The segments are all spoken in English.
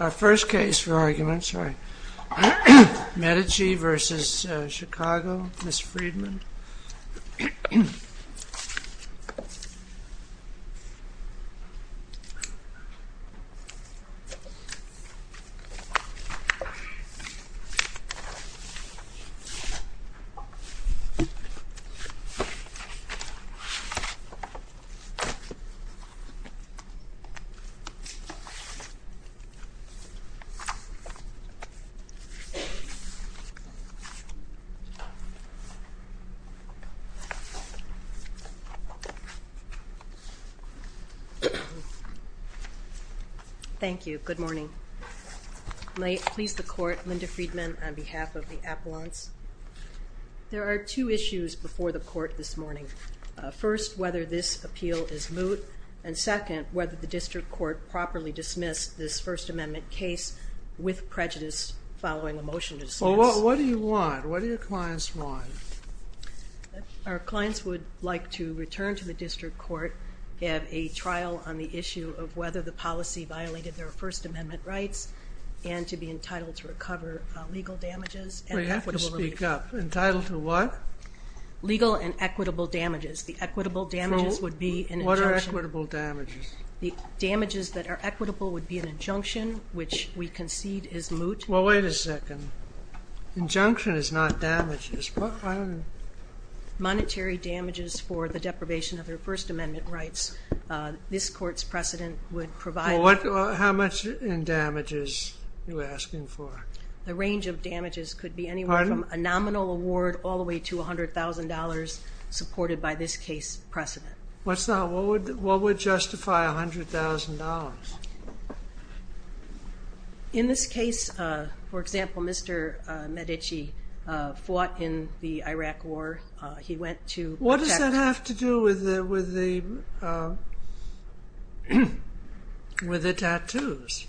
Our first case for argument, Medici v. Chicago, Ms. Friedman Thank you. Good morning. May it please the Court, Linda Friedman, on behalf of the Appellants. There are two issues before the Court this morning. First, whether this appeal is moot, and second, whether the District Court properly dismissed this First Amendment case with prejudice following a motion to dismiss. Well, what do you want? What do your clients want? Our clients would like to return to the District Court, have a trial on the issue of whether the policy violated their First Amendment rights, and to be entitled to recover legal damages and equitable relief. Well, you have to speak up. Entitled to what? Legal and equitable damages. The equitable damages would be an injunction. The damages that are equitable would be an injunction, which we concede is moot. Well, wait a second. Injunction is not damages. Monetary damages for the deprivation of their First Amendment rights. This Court's precedent would provide Well, how much in damages are you asking for? The range of damages could be anywhere from a nominal award all the way to $100,000, supported by this case's precedent. What's that? What would justify $100,000? In this case, for example, Mr. Medici fought in the Iraq War. He went to protect What does that have to do with the tattoos?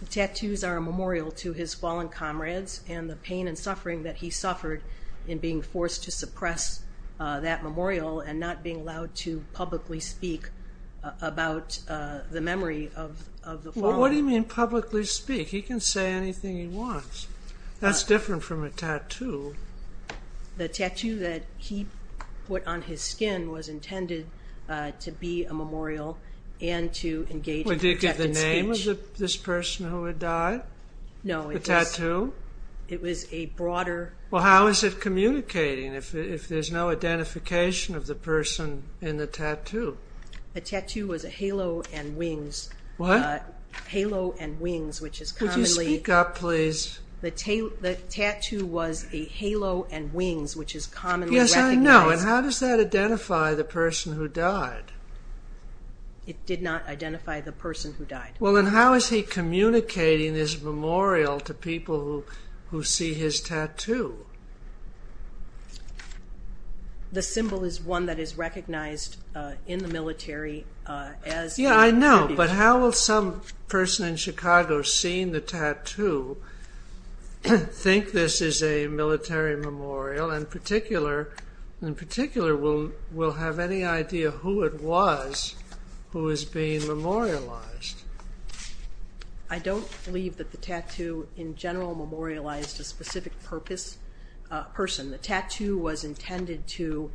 The tattoos are a memorial to his fallen comrades and the pain and suffering that he suffered in being forced to suppress that memorial and not being allowed to publicly speak about the memory of the fallen. What do you mean publicly speak? He can say anything he wants. That's different from a tattoo. The tattoo that he put on his skin was intended to be a memorial and to engage in protected speech. Did it get the name of this person who had died? No. The tattoo? It was a broader Well, how is it communicating if there's no identification of the person in the tattoo? The tattoo was a halo and wings What? Halo and wings, which is commonly Would you speak up, please? The tattoo was a halo and wings, which is commonly recognized Yes, I know. And how does that identify the person who died? It did not identify the person who died. Well, then how is he communicating his memorial to people who see his tattoo? The symbol is one that is recognized in the military as Yeah, I know. But how will some person in Chicago seeing the tattoo think this is a military memorial? In particular, will have any idea who it was who is being memorialized? I don't believe that the tattoo in general memorialized a specific person. The tattoo was intended to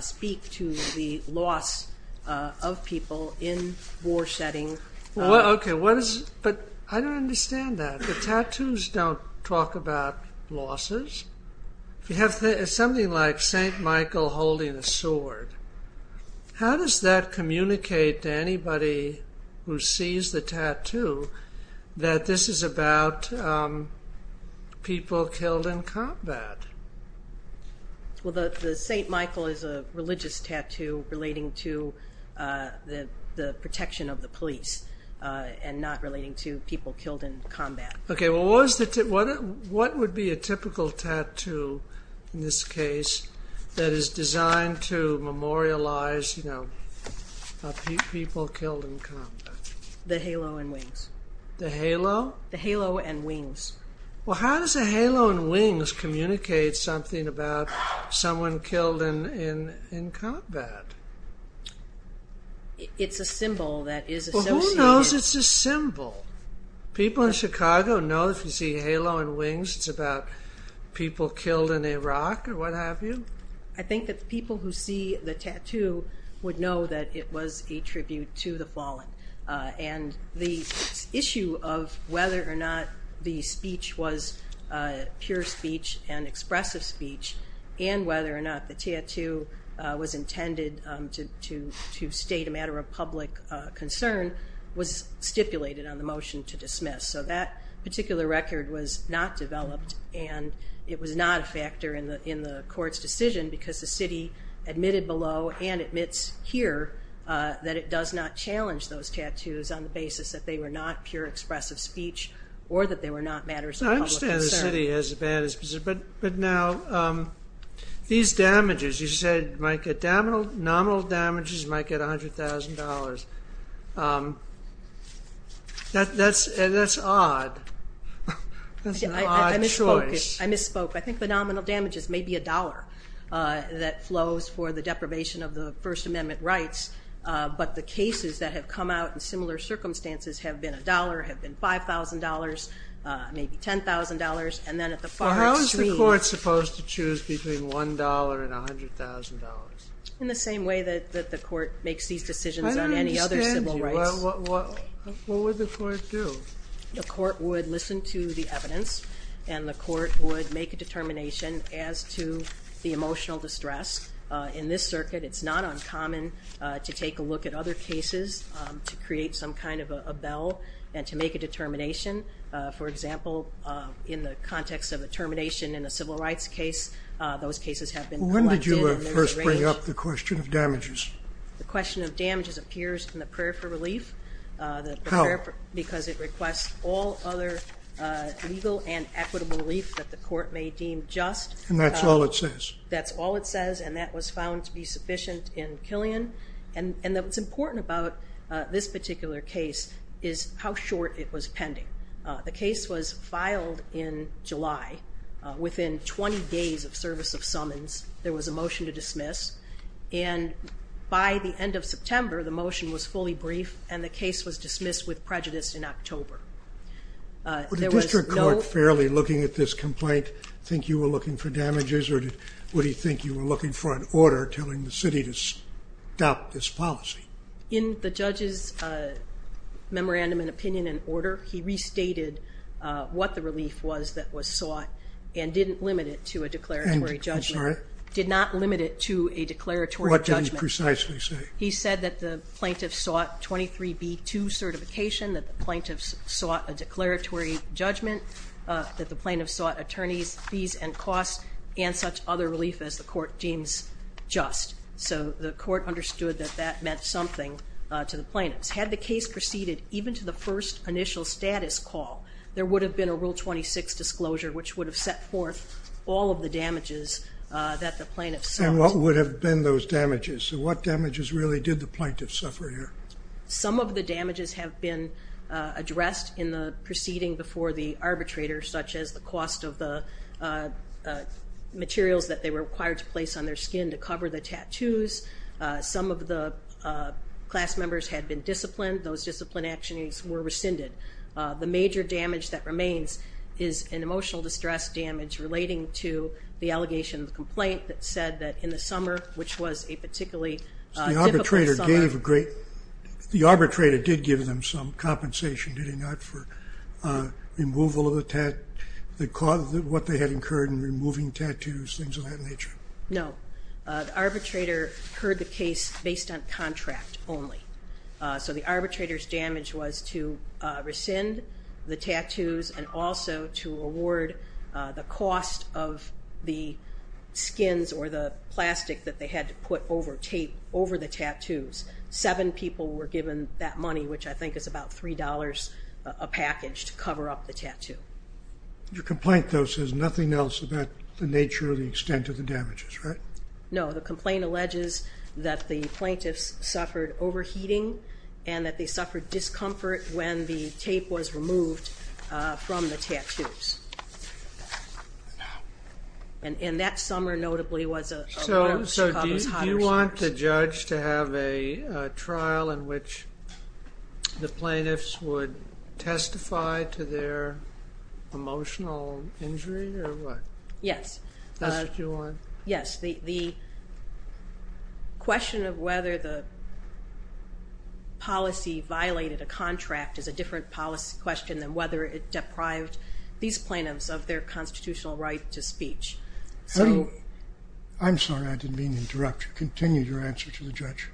speak to the loss of people in war setting But I don't understand that. The tattoos don't talk about losses? You have something like St. Michael holding a sword How does that communicate to anybody who sees the tattoo that this is about people killed in combat? The St. Michael is a religious tattoo relating to the protection of the police and not relating to people killed in combat What would be a typical tattoo in this case that is designed to memorialize people killed in combat? The halo and wings The halo? The halo and wings Well, how does the halo and wings communicate something about someone killed in combat? It's a symbol that is associated Well, who knows it's a symbol? People in Chicago know if you see halo and wings it's about people killed in Iraq or what have you? I think that people who see the tattoo would know that it was a tribute to the fallen The issue of whether or not the speech was pure speech and expressive speech and whether or not the tattoo was intended to state a matter of public concern was stipulated on the motion to dismiss So that particular record was not developed and it was not a factor in the court's decision because the city admitted below and admits here that it does not challenge those tattoos on the basis that they were not pure expressive speech or that they were not matters of public concern I understand the city has a ban but now these damages you said nominal damages might get $100,000 That's odd That's an odd choice I misspoke I think the nominal damages may be a dollar that flows for the deprivation of the First Amendment rights but the cases that have come out in similar circumstances have been a dollar have been $5,000, maybe $10,000 How is the court supposed to choose between $1,000 and $100,000? In the same way that the court makes these decisions on any other civil rights I don't understand. What would the court do? The court would listen to the evidence and the court would make a determination as to the emotional distress In this circuit, it's not uncommon to take a look at other cases to create some kind of a bell and to make a determination For example, in the context of a termination in a civil rights case those cases have been collided and rearranged When did you first bring up the question of damages? The question of damages appears in the prayer for relief How? Because it requests all other legal and equitable relief that the court may deem just And that's all it says? That's all it says and that was found to be sufficient in Killian and what's important about this particular case is how short it was pending The case was filed in July Within 20 days of service of summons, there was a motion to dismiss and by the end of September, the motion was fully brief and the case was dismissed with prejudice in October Would the district court fairly looking at this complaint think you were looking for damages or would he think you were looking for an order telling the city to stop this policy? In the judge's memorandum and opinion and order he restated what the relief was that was sought and didn't limit it to a declaratory judgment I'm sorry? Did not limit it to a declaratory judgment What did he precisely say? He said that the plaintiff sought 23B2 certification that the plaintiff sought a declaratory judgment that the plaintiff sought attorneys' fees and costs and such other relief as the court deems just So the court understood that that meant something to the plaintiffs Had the case proceeded even to the first initial status call there would have been a Rule 26 disclosure which would have set forth all of the damages that the plaintiff sought And what would have been those damages? So what damages really did the plaintiff suffer here? Some of the damages have been addressed in the proceeding before the arbitrator such as the cost of the materials that they were required to place on their skin to cover the tattoos Some of the class members had been disciplined Those discipline actions were rescinded The major damage that remains is an emotional distress damage relating to the allegation of the complaint that said that in the summer, which was a particularly difficult summer The arbitrator did give them some compensation, did he not? For removal of the tattoos What they had incurred in removing tattoos, things of that nature No, the arbitrator heard the case based on contract only So the arbitrator's damage was to rescind the tattoos and also to award the cost of the skins or the plastic that they had to put over the tattoos Seven people were given that money, which I think is about $3 a package to cover up the tattoo Your complaint, though, says nothing else about the nature or the extent of the damages, right? No, the complaint alleges that the plaintiffs suffered overheating and that they suffered discomfort when the tape was removed from the tattoos And that summer, notably, was one of Chicago's hottest years So do you want the judge to have a trial in which the plaintiffs would testify to their emotional injury, or what? Yes That's what you want? Yes, the question of whether the policy violated a contract is a different policy question than whether it deprived these plaintiffs of their constitutional right to speech I'm sorry, I didn't mean to interrupt you. Continue your answer to the judge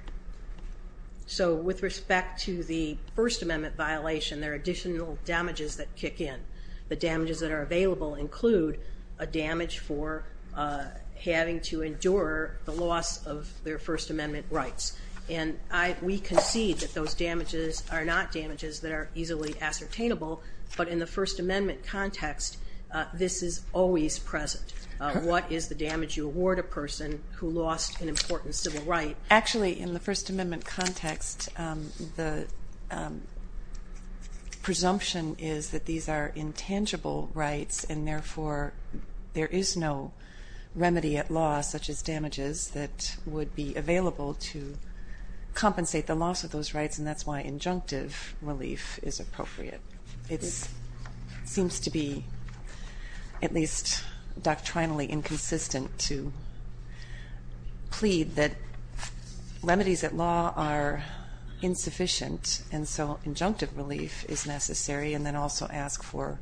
So with respect to the First Amendment violation, there are additional damages that kick in The damages that are available include a damage for having to endure the loss of their First Amendment rights And we concede that those damages are not damages that are easily ascertainable But in the First Amendment context, this is always present What is the damage you award a person who lost an important civil right? Actually, in the First Amendment context, the presumption is that these are intangible rights And therefore, there is no remedy at law, such as damages, that would be available to compensate the loss of those rights And that's why injunctive relief is appropriate It seems to be, at least doctrinally, inconsistent to plead that remedies at law are insufficient And so injunctive relief is necessary, and then also ask for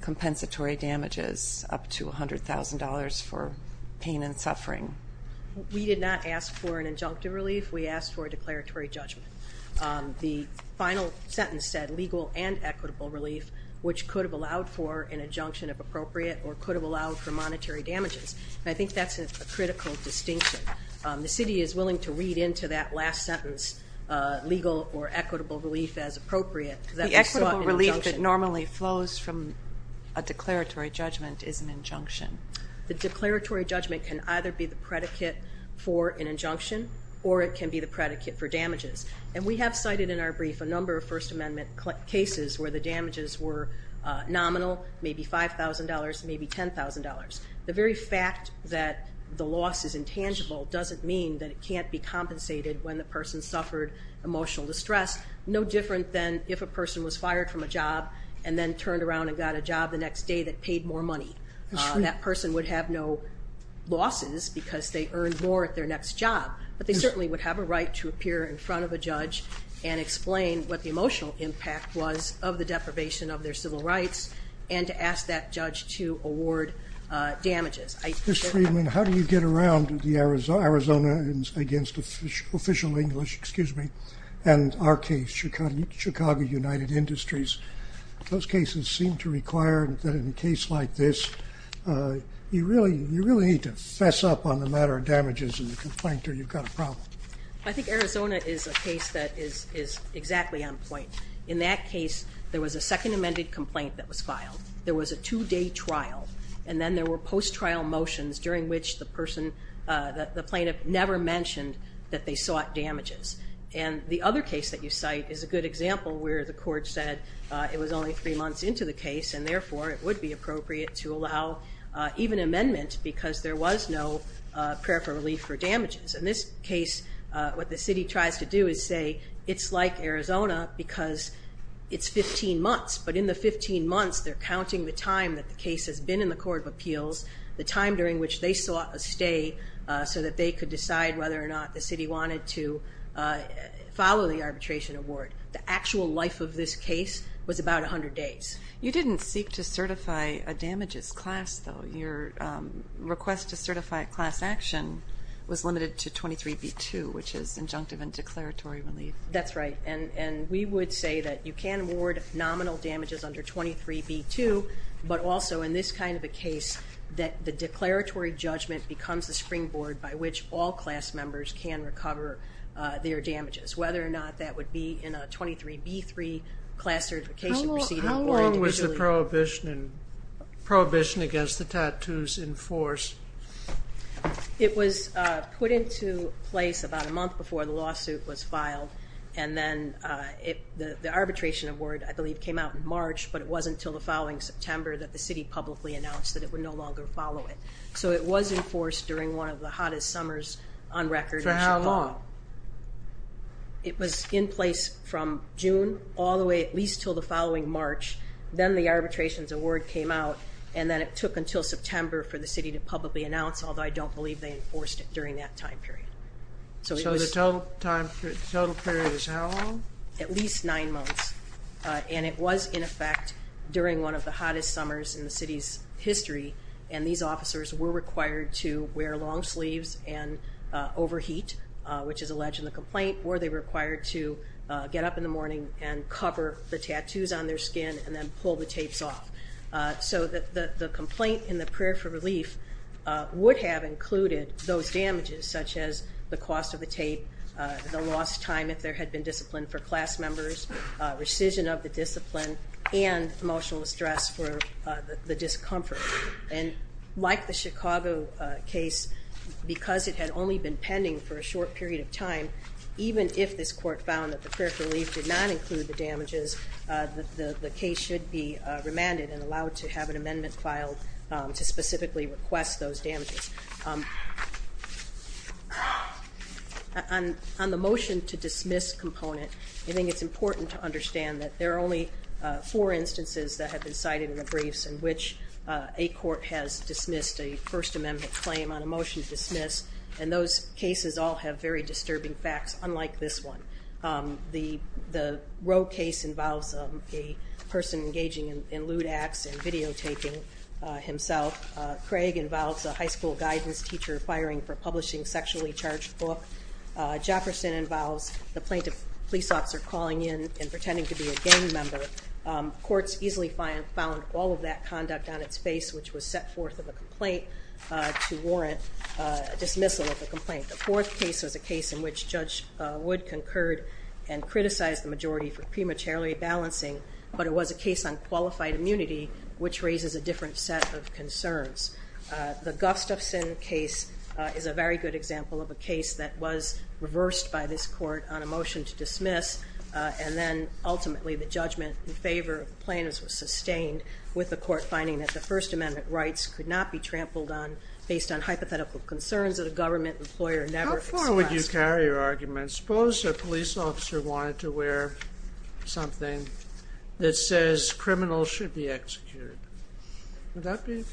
compensatory damages up to $100,000 for pain and suffering We did not ask for an injunctive relief, we asked for a declaratory judgment The final sentence said legal and equitable relief, which could have allowed for an injunction of appropriate Or could have allowed for monetary damages And I think that's a critical distinction The city is willing to read into that last sentence legal or equitable relief as appropriate The equitable relief that normally flows from a declaratory judgment is an injunction The declaratory judgment can either be the predicate for an injunction, or it can be the predicate for damages And we have cited in our brief a number of First Amendment cases where the damages were nominal, maybe $5,000, maybe $10,000 The very fact that the loss is intangible doesn't mean that it can't be compensated when the person suffered emotional distress No different than if a person was fired from a job and then turned around and got a job the next day that paid more money That person would have no losses because they earned more at their next job But they certainly would have a right to appear in front of a judge and explain what the emotional impact was of the deprivation of their civil rights And to ask that judge to award damages Ms. Friedman, how do you get around the Arizona against official English, excuse me, and our case, Chicago United Industries Those cases seem to require that in a case like this, you really need to fess up on the matter of damages in the complaint or you've got a problem I think Arizona is a case that is exactly on point In that case, there was a second amended complaint that was filed There was a two-day trial And then there were post-trial motions during which the plaintiff never mentioned that they sought damages And the other case that you cite is a good example where the court said it was only three months into the case And therefore, it would be appropriate to allow even amendment because there was no prayer for relief for damages In this case, what the city tries to do is say it's like Arizona because it's 15 months But in the 15 months, they're counting the time that the case has been in the court of appeals The time during which they sought a stay so that they could decide whether or not the city wanted to follow the arbitration award The actual life of this case was about 100 days You didn't seek to certify a damages class, though Your request to certify a class action was limited to 23b2, which is injunctive and declaratory relief That's right And we would say that you can award nominal damages under 23b2 But also in this kind of a case, the declaratory judgment becomes the springboard by which all class members can recover their damages Whether or not that would be in a 23b3 class certification proceeding How long was the prohibition against the tattoos enforced? It was put into place about a month before the lawsuit was filed And then the arbitration award, I believe, came out in March But it wasn't until the following September that the city publicly announced that it would no longer follow it So it was enforced during one of the hottest summers on record For how long? It was in place from June all the way at least till the following March Then the arbitration award came out and then it took until September for the city to publicly announce Although I don't believe they enforced it during that time period So the total period is how long? At least nine months And it was in effect during one of the hottest summers in the city's history And these officers were required to wear long sleeves and overheat, which is alleged in the complaint Or they were required to get up in the morning and cover the tattoos on their skin and then pull the tapes off So the complaint in the prayer for relief would have included those damages Such as the cost of the tape, the lost time if there had been discipline for class members Rescission of the discipline and emotional stress for the discomfort And like the Chicago case, because it had only been pending for a short period of time Even if this court found that the prayer for relief did not include the damages The case should be remanded and allowed to have an amendment filed to specifically request those damages On the motion to dismiss component I think it's important to understand that there are only four instances that have been cited in the briefs In which a court has dismissed a First Amendment claim on a motion to dismiss And those cases all have very disturbing facts, unlike this one The Rowe case involves a person engaging in lewd acts and videotaping himself Craig involves a high school guidance teacher firing for publishing a sexually charged book Jefferson involves the plaintiff police officer calling in and pretending to be a gang member Courts easily found all of that conduct on its face, which was set forth in the complaint To warrant dismissal of the complaint. The fourth case was a case in which Judge Wood concurred And criticized the majority for prematurely balancing, but it was a case on qualified immunity Which raises a different set of concerns. The Gustafson case is a very good example Of a case that was reversed by this court on a motion to dismiss And then ultimately the judgment in favor of the plaintiffs was sustained with the court finding That the First Amendment rights could not be trampled on based on hypothetical concerns that a government employer never expressed How far would you carry your argument? Suppose a police officer wanted to wear something That says criminals should be executed. Would that be?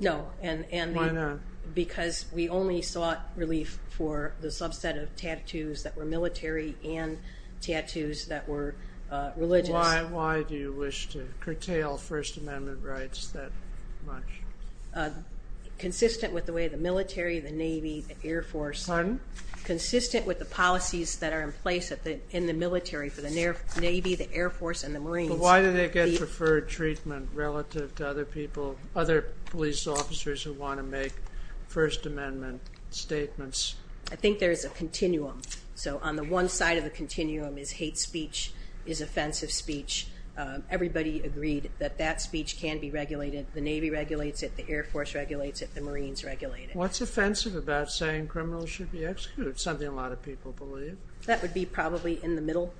No. Why not? Because we only sought relief for the subset of tattoos That were military and tattoos that were religious. Why do you wish to curtail First Amendment rights that much? Consistent with the way the military, the navy The air force. Pardon? Consistent with the policies that are in place in the military For the navy, the air force and the marines. But why do they get preferred treatment relative to other people Other police officers who want to make First Amendment statements? I think there is a continuum So on the one side of the continuum is hate speech, is offensive speech Everybody agreed that that speech can be regulated. The navy regulates it, the air force regulates it, the marines regulate it. What's offensive about saying criminals should be executed? Something a lot of people believe. That would be probably in the middle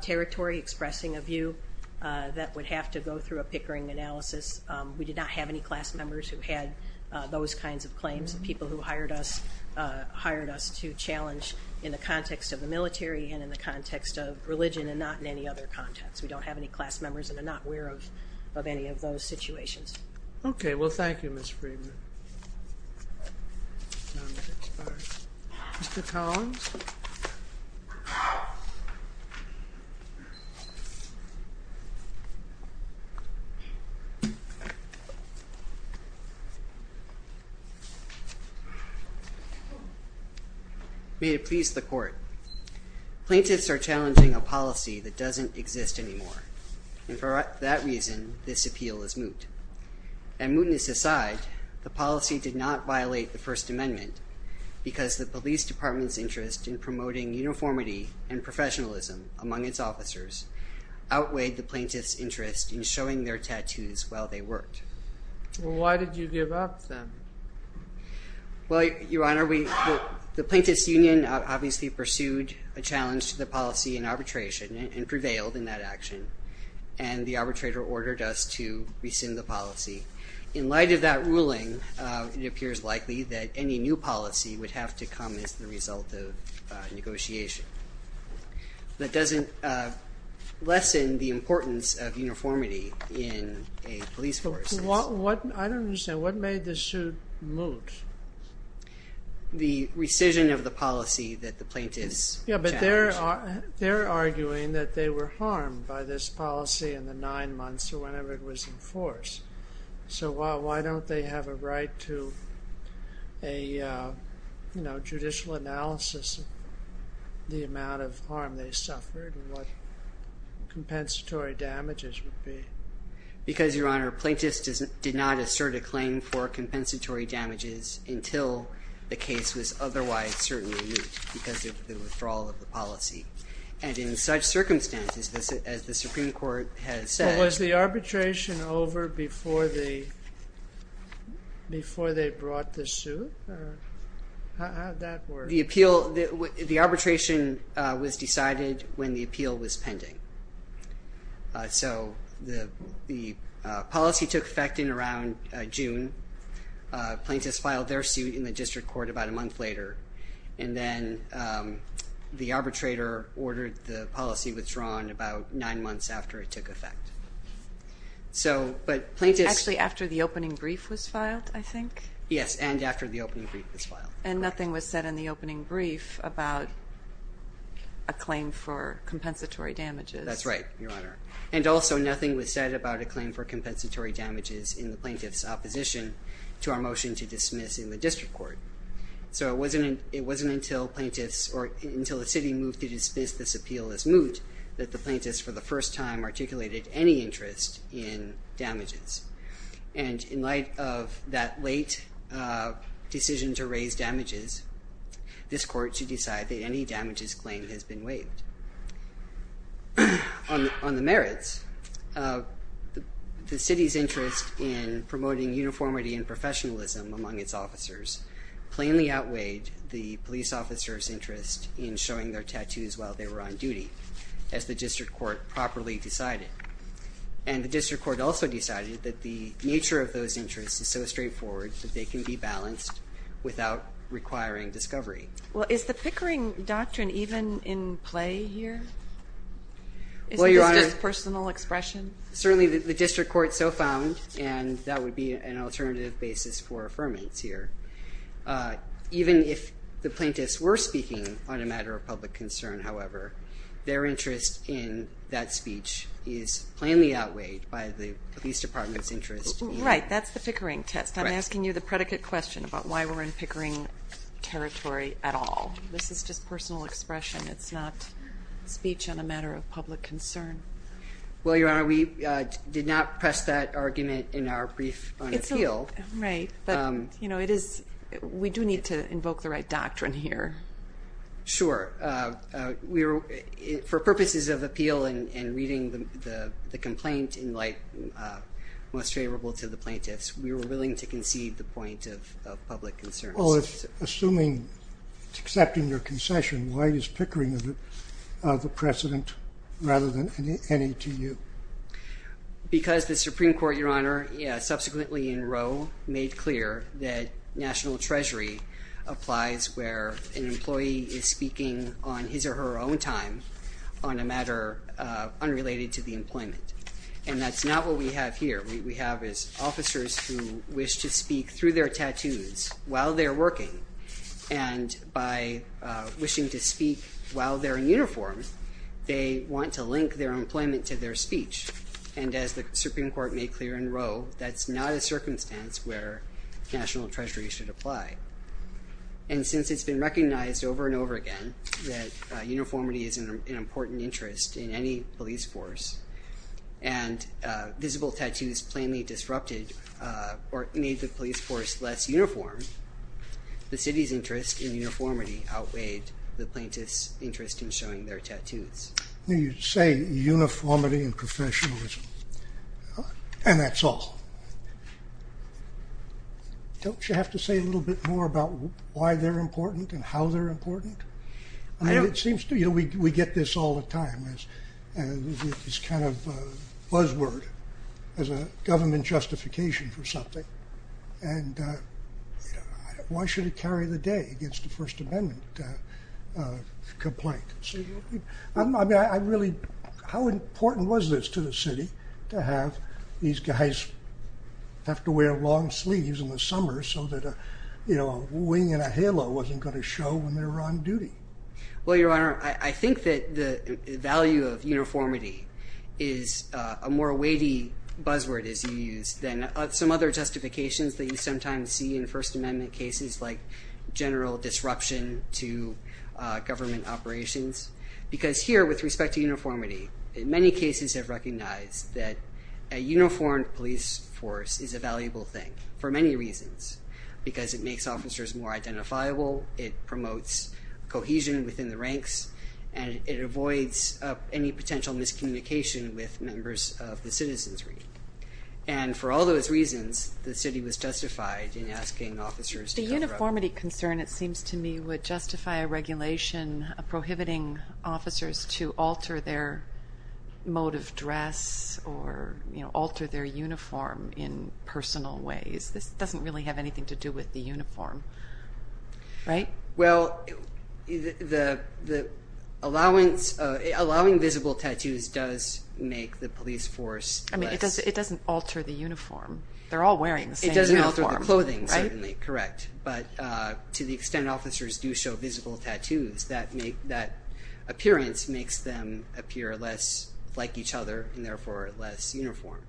territory expressing a view that would have to go through a Pickering analysis We did not have any class members who had those kinds of claims. People who hired us To challenge in the context of the military and in the context of religion and not in any other context We don't have any class members and are not aware of any of those situations. Okay, well thank you Ms. Friedman May it please the court. Plaintiffs are challenging a policy that doesn't exist anymore And for that reason, this appeal is moot. And mootness aside, the policy did not violate the First Amendment Because the police department's interest in promoting uniformity and professionalism among its officers Outweighed the plaintiffs' interest in showing their tattoos while they worked Well why did you give up then? Well your honor, the plaintiffs' union obviously Pursued a challenge to the policy in arbitration and prevailed in that action And the arbitrator ordered us to rescind the policy. In light of that ruling It appears likely that any new policy would have to come as the result of negotiation That doesn't lessen the importance of uniformity in a police force I don't understand. What made the suit moot? The rescission of the policy that the plaintiffs challenged Yeah, but they're arguing that they were harmed by this policy in the nine months or whenever it was enforced So why don't they have a right to a judicial analysis Of the amount of harm they suffered and what compensatory damages would be Because your honor, plaintiffs did not assert a claim for compensatory damages Until the case was otherwise certainly moot because of the withdrawal of the policy And in such circumstances as the Supreme Court has said But was the arbitration over before they brought the suit? How did that work? The arbitration was decided when the appeal was pending So the policy took effect in around June Plaintiffs filed their suit in the district court about a month later And then the arbitrator ordered the policy withdrawn about nine months after it took effect Actually after the opening brief was filed, I think Yes, and after the opening brief was filed And nothing was said in the opening brief about a claim for compensatory damages And also nothing was said about a claim for compensatory damages in the plaintiff's opposition To our motion to dismiss in the district court So it wasn't until the city moved to dismiss this appeal as moot That the plaintiffs for the first time articulated any interest in damages And in light of that late decision to raise damages This court should decide that any damages claim has been waived On the merits, the city's interest in promoting uniformity and professionalism among its officers Plainly outweighed the police officer's interest in showing their tattoos while they were on duty As the district court properly decided And the district court also decided that the nature of those interests is so straightforward that they can be balanced without requiring discovery Well is the Pickering Doctrine even in play here? Certainly the district court so found and that would be an alternative basis for affirmance here Even if the plaintiffs were speaking on a matter of public concern however Their interest in that speech is plainly outweighed by the police department's interest Right, that's the Pickering test. I'm asking you the predicate question about why we're in Pickering territory at all This is just personal expression, it's not speech on a matter of public concern Well your honor we did not press that argument in our brief on appeal Right, but we do need to invoke the right doctrine here Sure, for purposes of appeal and reading the complaint in light Most favorable to the plaintiffs we were willing to concede the point of public concern Well assuming it's accepting your concession, why is Pickering the precedent rather than NETU? Because the supreme court your honor subsequently in row Made clear that national treasury applies where an employee is speaking On his or her own time on a matter unrelated to the employment And that's not what we have here, we have officers who wish to speak through their tattoos While they're working and by wishing to speak while they're in uniform They want to link their employment to their speech and as the supreme court made clear in row That's not a circumstance where national treasury should apply And since it's been recognized over and over again that uniformity is an important interest In any police force and visible tattoos plainly disrupted Or made the police force less uniform, the city's interest in uniformity Outweighed the plaintiffs interest in showing their tattoos You say uniformity and professionalism and that's all Don't you have to say a little bit more about why they're important and how they're important We get this all the time, it's kind of a buzz word As a government justification for something And why should it carry the day against the first amendment complaint How important was this to the city to have these guys Have to wear long sleeves in the summer so that a wing and a halo Wasn't going to show when they were on duty. Well your honor I think that the value of uniformity Is a more weighty buzzword as you use than some other justifications that you sometimes see In first amendment cases like general disruption to government operations Because here with respect to uniformity many cases have recognized that a uniform police force Is a valuable thing for many reasons because it makes officers more identifiable It promotes cohesion within the ranks and it avoids any potential miscommunication With members of the citizens and for all those reasons the city was justified In asking officers to cover up. The uniformity concern it seems to me would justify a regulation Prohibiting officers to alter their mode of dress or alter their uniform In personal ways. This doesn't really have anything to do with the uniform, right? Well, allowing visible tattoos does make the police force It doesn't alter the uniform, they're all wearing the same uniform It doesn't alter the clothing, correct, but to the extent officers do show visible tattoos That appearance makes them appear less like each other and therefore less uniform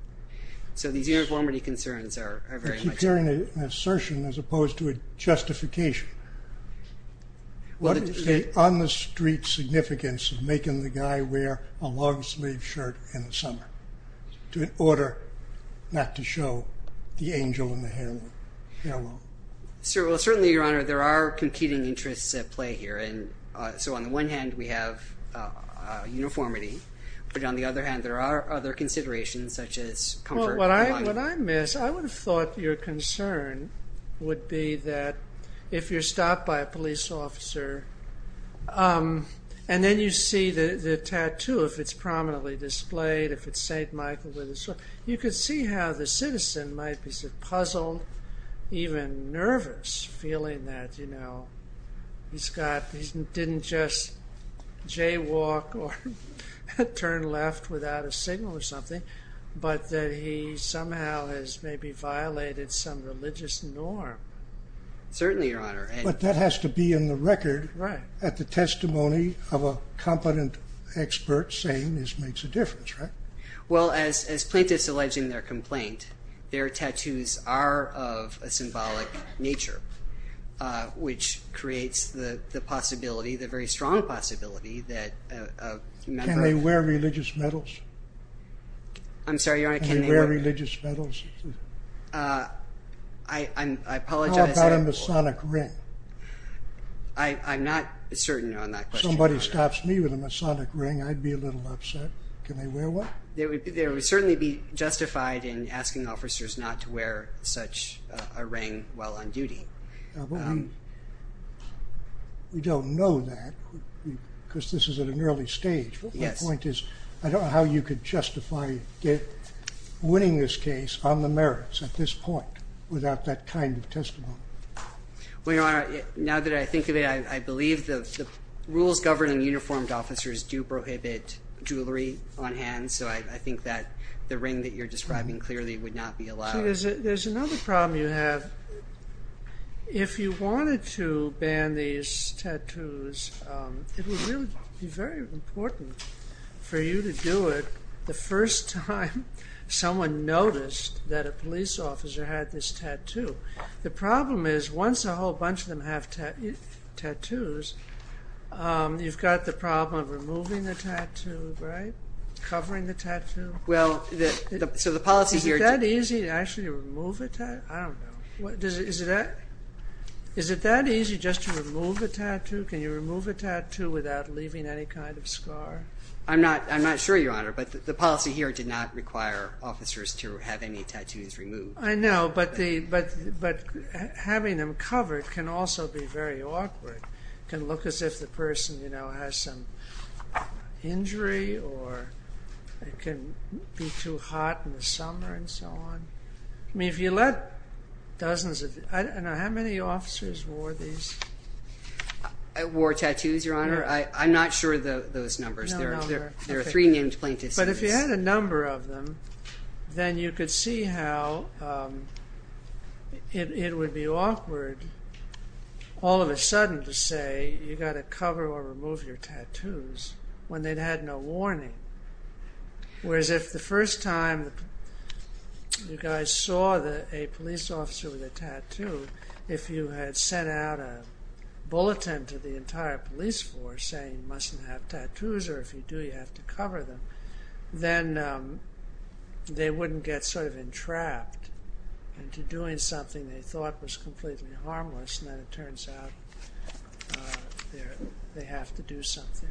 So these uniformity concerns are very much... I keep hearing an assertion as opposed to a justification What is the on the street significance of making the guy wear A long sleeved shirt in the summer in order not to show The angel and the herald. Certainly, your honor, there are competing interests at play Here and so on the one hand we have uniformity but on the other hand There are other considerations such as comfort. What I miss, I would have thought your concern Would be that if you're stopped by a police officer and then you see The tattoo, if it's prominently displayed, if it's Saint Michael, you can see how the citizen Might be puzzled, even nervous, feeling that He didn't just jaywalk or turn left without a signal or something But that he somehow has maybe violated some religious norm Certainly, your honor. But that has to be in the record at the testimony of a competent Expert saying this makes a difference, right? Well, as plaintiffs alleging their complaint Their tattoos are of a symbolic nature which creates the Possibility, the very strong possibility that a member... Can they wear religious medals? I'm sorry, your honor. Can they wear religious medals? How about a masonic ring? I'm not certain on that question. Somebody stops me with a masonic ring, I'd be a little upset. Can they wear one? There would certainly be justified in asking officers not to wear such a ring while on duty. We don't know that because this is at an early stage. But my point is, I don't know how you could justify winning this case on the merits At this point without that kind of testimony. Well, your honor, now that I think of it, I believe The rules governing uniformed officers do prohibit jewelry on hand, so I think that The ring that you're describing clearly would not be allowed. There's another problem you have If you wanted to ban these tattoos, it would really be very important For you to do it the first time someone noticed that a police officer Had this tattoo. The problem is once a whole bunch of them have tattoos You've got the problem of removing the tattoo, covering the tattoo Is it that easy to actually remove a tattoo? Is it that easy just to remove a tattoo? Can you remove a tattoo without leaving any kind of scar? I'm not sure, your honor, but the policy here did not require officers to have any tattoos removed I know, but having them covered can also be very awkward It can look as if the person has some injury It can be too hot in the summer and so on How many officers wore these? Wore tattoos, your honor? I'm not sure of those numbers. There are three named plaintiffs But if you had a number of them, then you could see how It would be awkward all of a sudden to say you've got to cover or remove your tattoos When they'd had no warning. Whereas if the first time You guys saw a police officer with a tattoo, if you had sent out a Bulletin to the entire police force saying you mustn't have tattoos or if you do you have to cover them Then they wouldn't get sort of entrapped Into doing something they thought was completely harmless and then it turns out They have to do something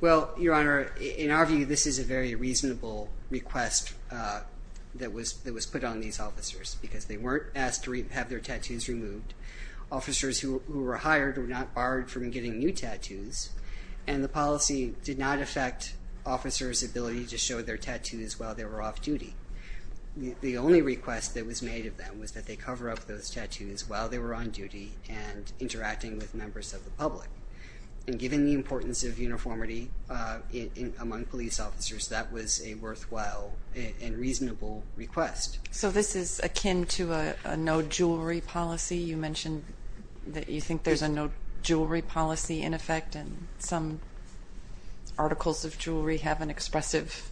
Well, your honor, in our view this is a very reasonable request that was put on these officers Because they weren't asked to have their tattoos removed. Officers who were hired were not barred from getting new tattoos And the policy did not affect officers' ability to show their tattoos while they were off duty The only request that was made of them was that they cover up those tattoos while they were on duty And interacting with members of the public. And given the importance of uniformity Among police officers, that was a worthwhile and reasonable request. So this is akin to A no jewelry policy. You mentioned that you think there's a no jewelry policy in effect And some articles of jewelry have an expressive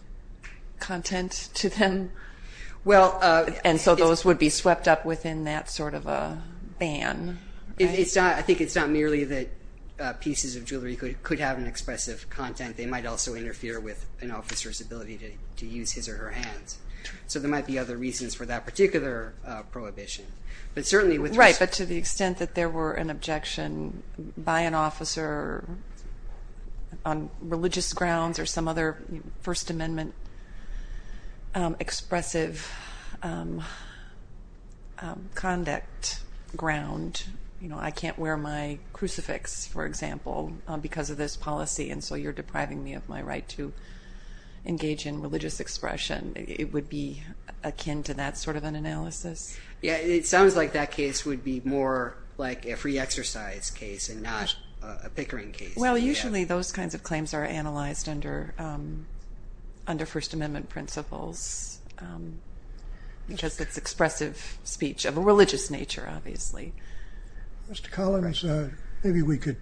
content to them And so those would be swept up within that sort of a ban I think it's not merely that pieces of jewelry could have an expressive content, they might also interfere With an officer's ability to use his or her hands. So there might be other reasons for that particular Prohibition. Right, but to the extent that there were an objection by an officer On religious grounds or some other First Amendment Expressive conduct ground You know, I can't wear my crucifix, for example, because of this policy. And so you're depriving me of my right To engage in religious expression. It would be akin to that sort of an analysis Yeah, it sounds like that case would be more like a free exercise case and not a pickering case Well, usually those kinds of claims are analyzed under First Amendment principles Because it's expressive speech of a religious nature, obviously Mr. Collins, maybe we could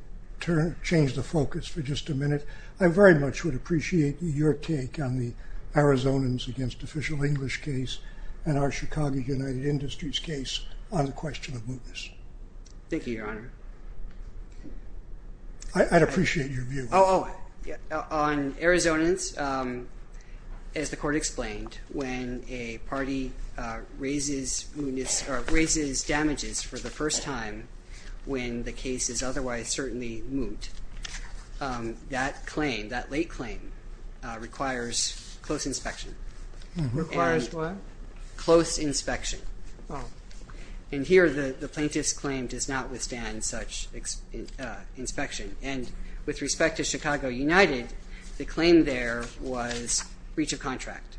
change the focus for just a minute I very much would appreciate your take on the Arizonans against official English case And our Chicago United Industries case on the question of mootness. Thank you, Your Honor I'd appreciate your view. On Arizonans As the court explained, when a party raises Damages for the first time when the case is otherwise certainly moot That late claim requires close inspection And here the plaintiff's claim does not withstand Such inspection. And with respect to Chicago United, the claim there Was breach of contract.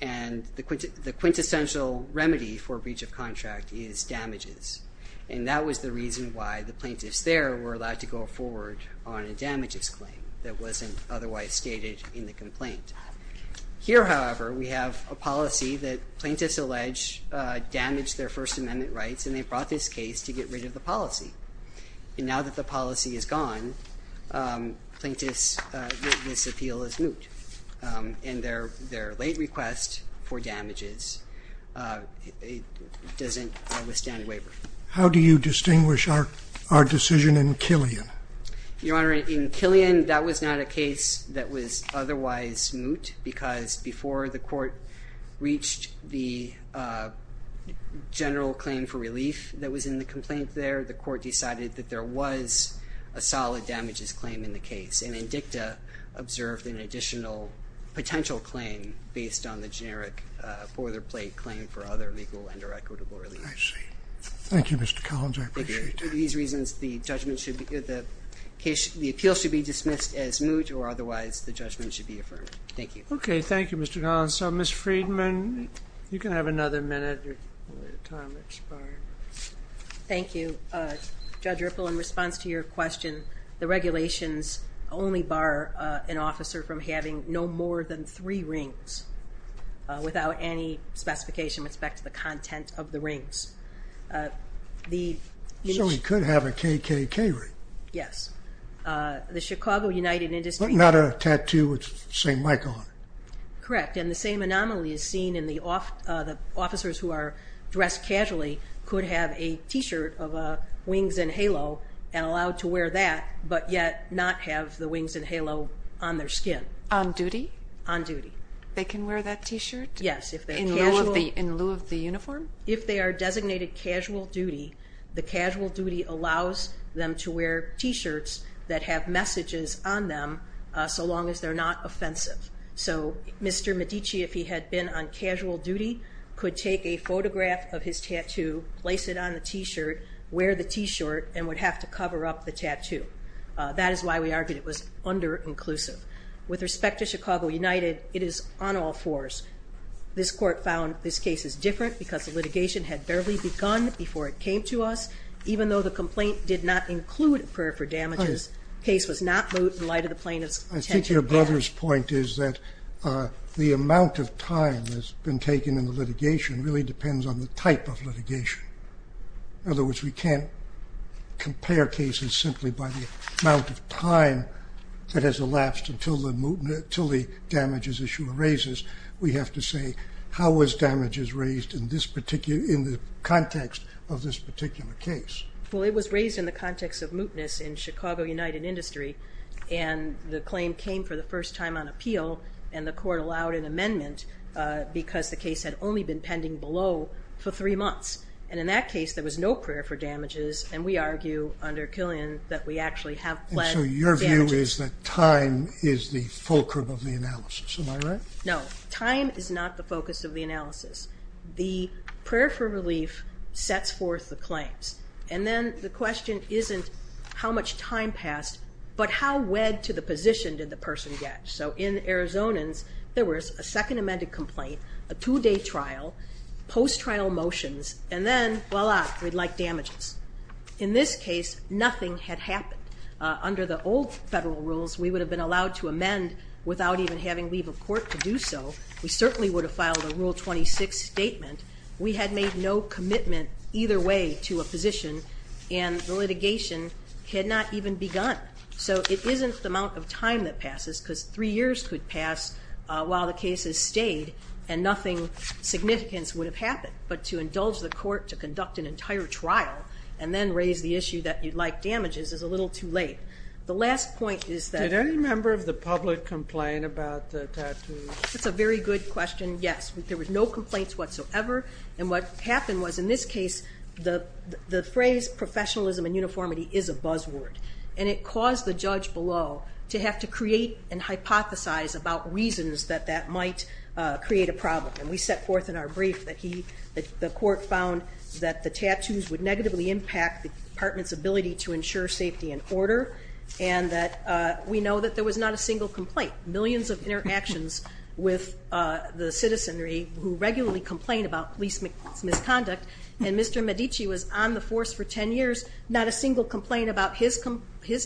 And the quintessential remedy for breach of contract Is damages. And that was the reason why the plaintiffs there were allowed to go forward On a damages claim that wasn't otherwise stated in the complaint. Here, however, we have a policy That plaintiffs allege damaged their First Amendment rights and they brought this case to get rid of the policy And now that the policy is gone, plaintiffs make this appeal as moot And their late request for damages doesn't withstand waiver How do you distinguish our decision in Killian? Your Honor, in Killian, that was not a case that was otherwise moot Because before the court reached the general claim for relief That was in the complaint there, the court decided that there was a solid damages claim in the case And INDICTA observed an additional potential claim based on the generic boilerplate claim For other legal and or equitable relief. I see. Thank you, Mr. Collins, I appreciate that. For these reasons, the appeal should be dismissed as moot or otherwise the judgment should be affirmed. Thank you. Okay, thank you, Mr. Collins. So, Ms. Friedman, you can have another minute. Thank you. Judge Ripple, in response to your question, the regulations only bar An officer from having no more than three rings without any specification With respect to the content of the rings. So he could have a KKK ring? Yes. The Chicago United Industry... But not a tattoo with St. Michael on it? Correct. And the same anomaly is seen in the officers who are dressed casually could have a Three rings and halo on their skin. On duty? On duty. They can wear that T-shirt? Yes. In lieu of the uniform? If they are designated casual duty, the casual duty allows Them to wear T-shirts that have messages on them so long as they're not offensive. So Mr. Medici, if he had been on casual duty, could take a photograph of his tattoo Place it on the T-shirt, wear the T-shirt, and would have to cover up the tattoo. That is why we argued it was under-inclusive. With respect to Chicago United, it is on all fours. This court found this case is different because the litigation had barely begun before it came to us. Even though the complaint did not include a prayer for damages, the case was not moot in light of the plaintiff's intention. Your brother's point is that the amount of time that has been taken in the litigation Really depends on the type of litigation. In other words, we can't compare cases simply by The amount of time that has elapsed until the damages issue arises. We have to say, how was damages raised in the context of this particular case? It was raised in the context of mootness in Chicago United Industry. The claim came for the first time on appeal, and the court allowed an amendment Because the case had only been pending below for three months. In that case, there was no prayer for damages, and we argue under Killian that we actually have pled damages. So your view is that time is the fulcrum of the analysis, am I right? No, time is not the focus of the analysis. The prayer for relief sets forth the claims. And then the question isn't how much time passed, but how wed to the position did the person get. So in Arizonans, there was a second amended complaint, a two-day trial, post-trial motions, And then, voila, we'd like damages. In this case, nothing had happened. Under the old federal rules, we would have been allowed to amend without even having leave of court to do so. We certainly would have filed a Rule 26 statement. We had made no commitment either way to a position, And the litigation had not even begun. So it isn't the amount of time that passes, Because three years could pass while the case has stayed, and nothing significant would have happened. But to indulge the court to conduct an entire trial and then raise the issue that you'd like damages is a little too late. The last point is that... Did any member of the public complain about the tattoos? That's a very good question. Yes. There were no complaints whatsoever. And what happened was, in this case, the phrase professionalism and uniformity is a buzzword, and it caused the judge below to have to create and hypothesize about reasons that that might create a problem. And we set forth in our brief that the court found that the tattoos would negatively impact the department's ability to ensure safety and order, and that we know that there was not a single complaint. Millions of interactions with the citizenry who regularly complain about police misconduct, and Mr. Medici was on the force for 10 years. Not a single complaint about his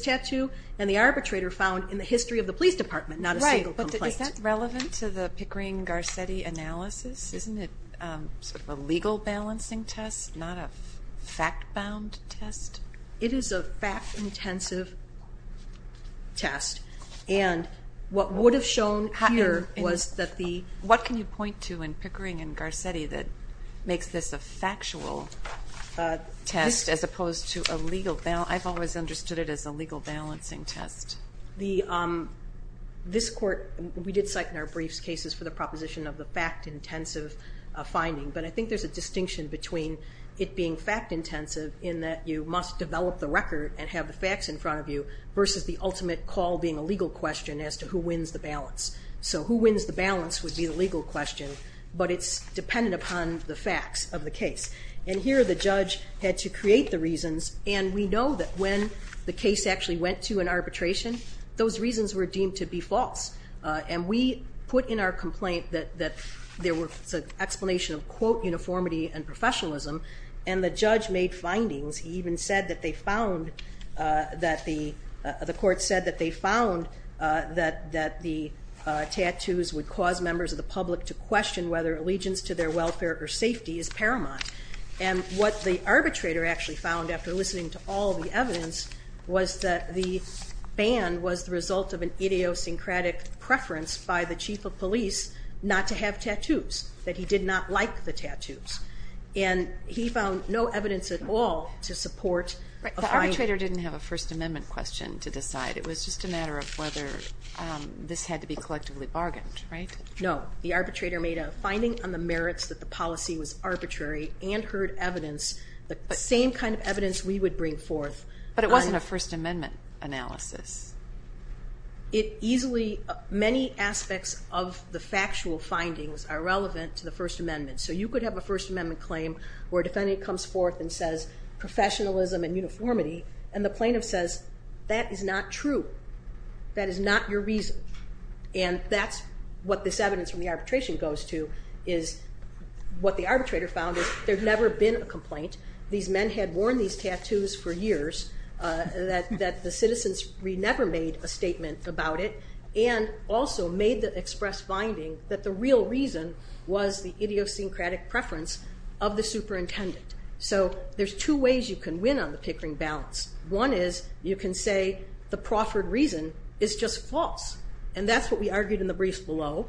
tattoo and the arbitrator found in the history of the police department. Not a single complaint. Right. But is that relevant to the Pickering-Garcetti analysis? Isn't it a legal balancing test, not a fact-bound test? It is a fact-intensive test. And what would have shown here was that the... What can you point to in Pickering and Garcetti that makes this a factual test as opposed to a legal... I've always understood it as a legal balancing test. This court, we did cite in our briefs cases for the proposition of the fact-intensive finding, but I think there's a distinction between it being a legal question as to who wins the balance. So who wins the balance would be the legal question, but it's dependent upon the facts of the case. And here the judge had to create the reasons, and we know that when the case actually went to an arbitration, those reasons were deemed to be false. And we put in our complaint that there was an explanation of, quote, uniformity and professionalism, and the judge made findings. He even said that they found that the... The court said that they found that the tattoos would cause members of the public to question whether allegiance to their welfare or safety is paramount. And what the arbitrator actually found after listening to all the evidence was that the ban was the result of an idiosyncratic preference by the chief of police not to have tattoos, that he did not like the tattoos. And he found no evidence at all to support a finding... The arbitrator didn't have a First Amendment question to decide. It was just a matter of whether this had to be collectively bargained, right? No. The arbitrator made a finding on the merits that the policy was arbitrary and heard evidence, the same kind of evidence we would bring forth... But it wasn't a First Amendment claim where actual findings are relevant to the First Amendment. So you could have a First Amendment claim where a defendant comes forth and says, professionalism and uniformity, and the plaintiff says, that is not true. That is not your reason. And that's what this evidence from the arbitration goes to, is what the arbitrator found is there had never been a complaint. These men had worn these tattoos for years, that the citizens never made a statement about it, and also made the express finding that the real reason was the idiosyncratic preference of the superintendent. So there's two ways you can win on the Pickering balance. One is, you can say, the proffered reason is just false. And that's what we argued in the briefs below,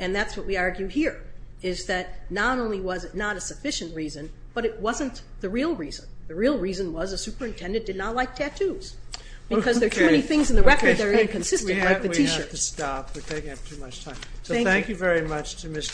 and that's what we argue here. is that not only was it not a sufficient reason, but it wasn't the real reason. The real reason was the superintendent did not like tattoos. Because there are too many things in the record that are inconsistent, like the t-shirts. Thank you very much to Mr. Friedman and Mr. Collins.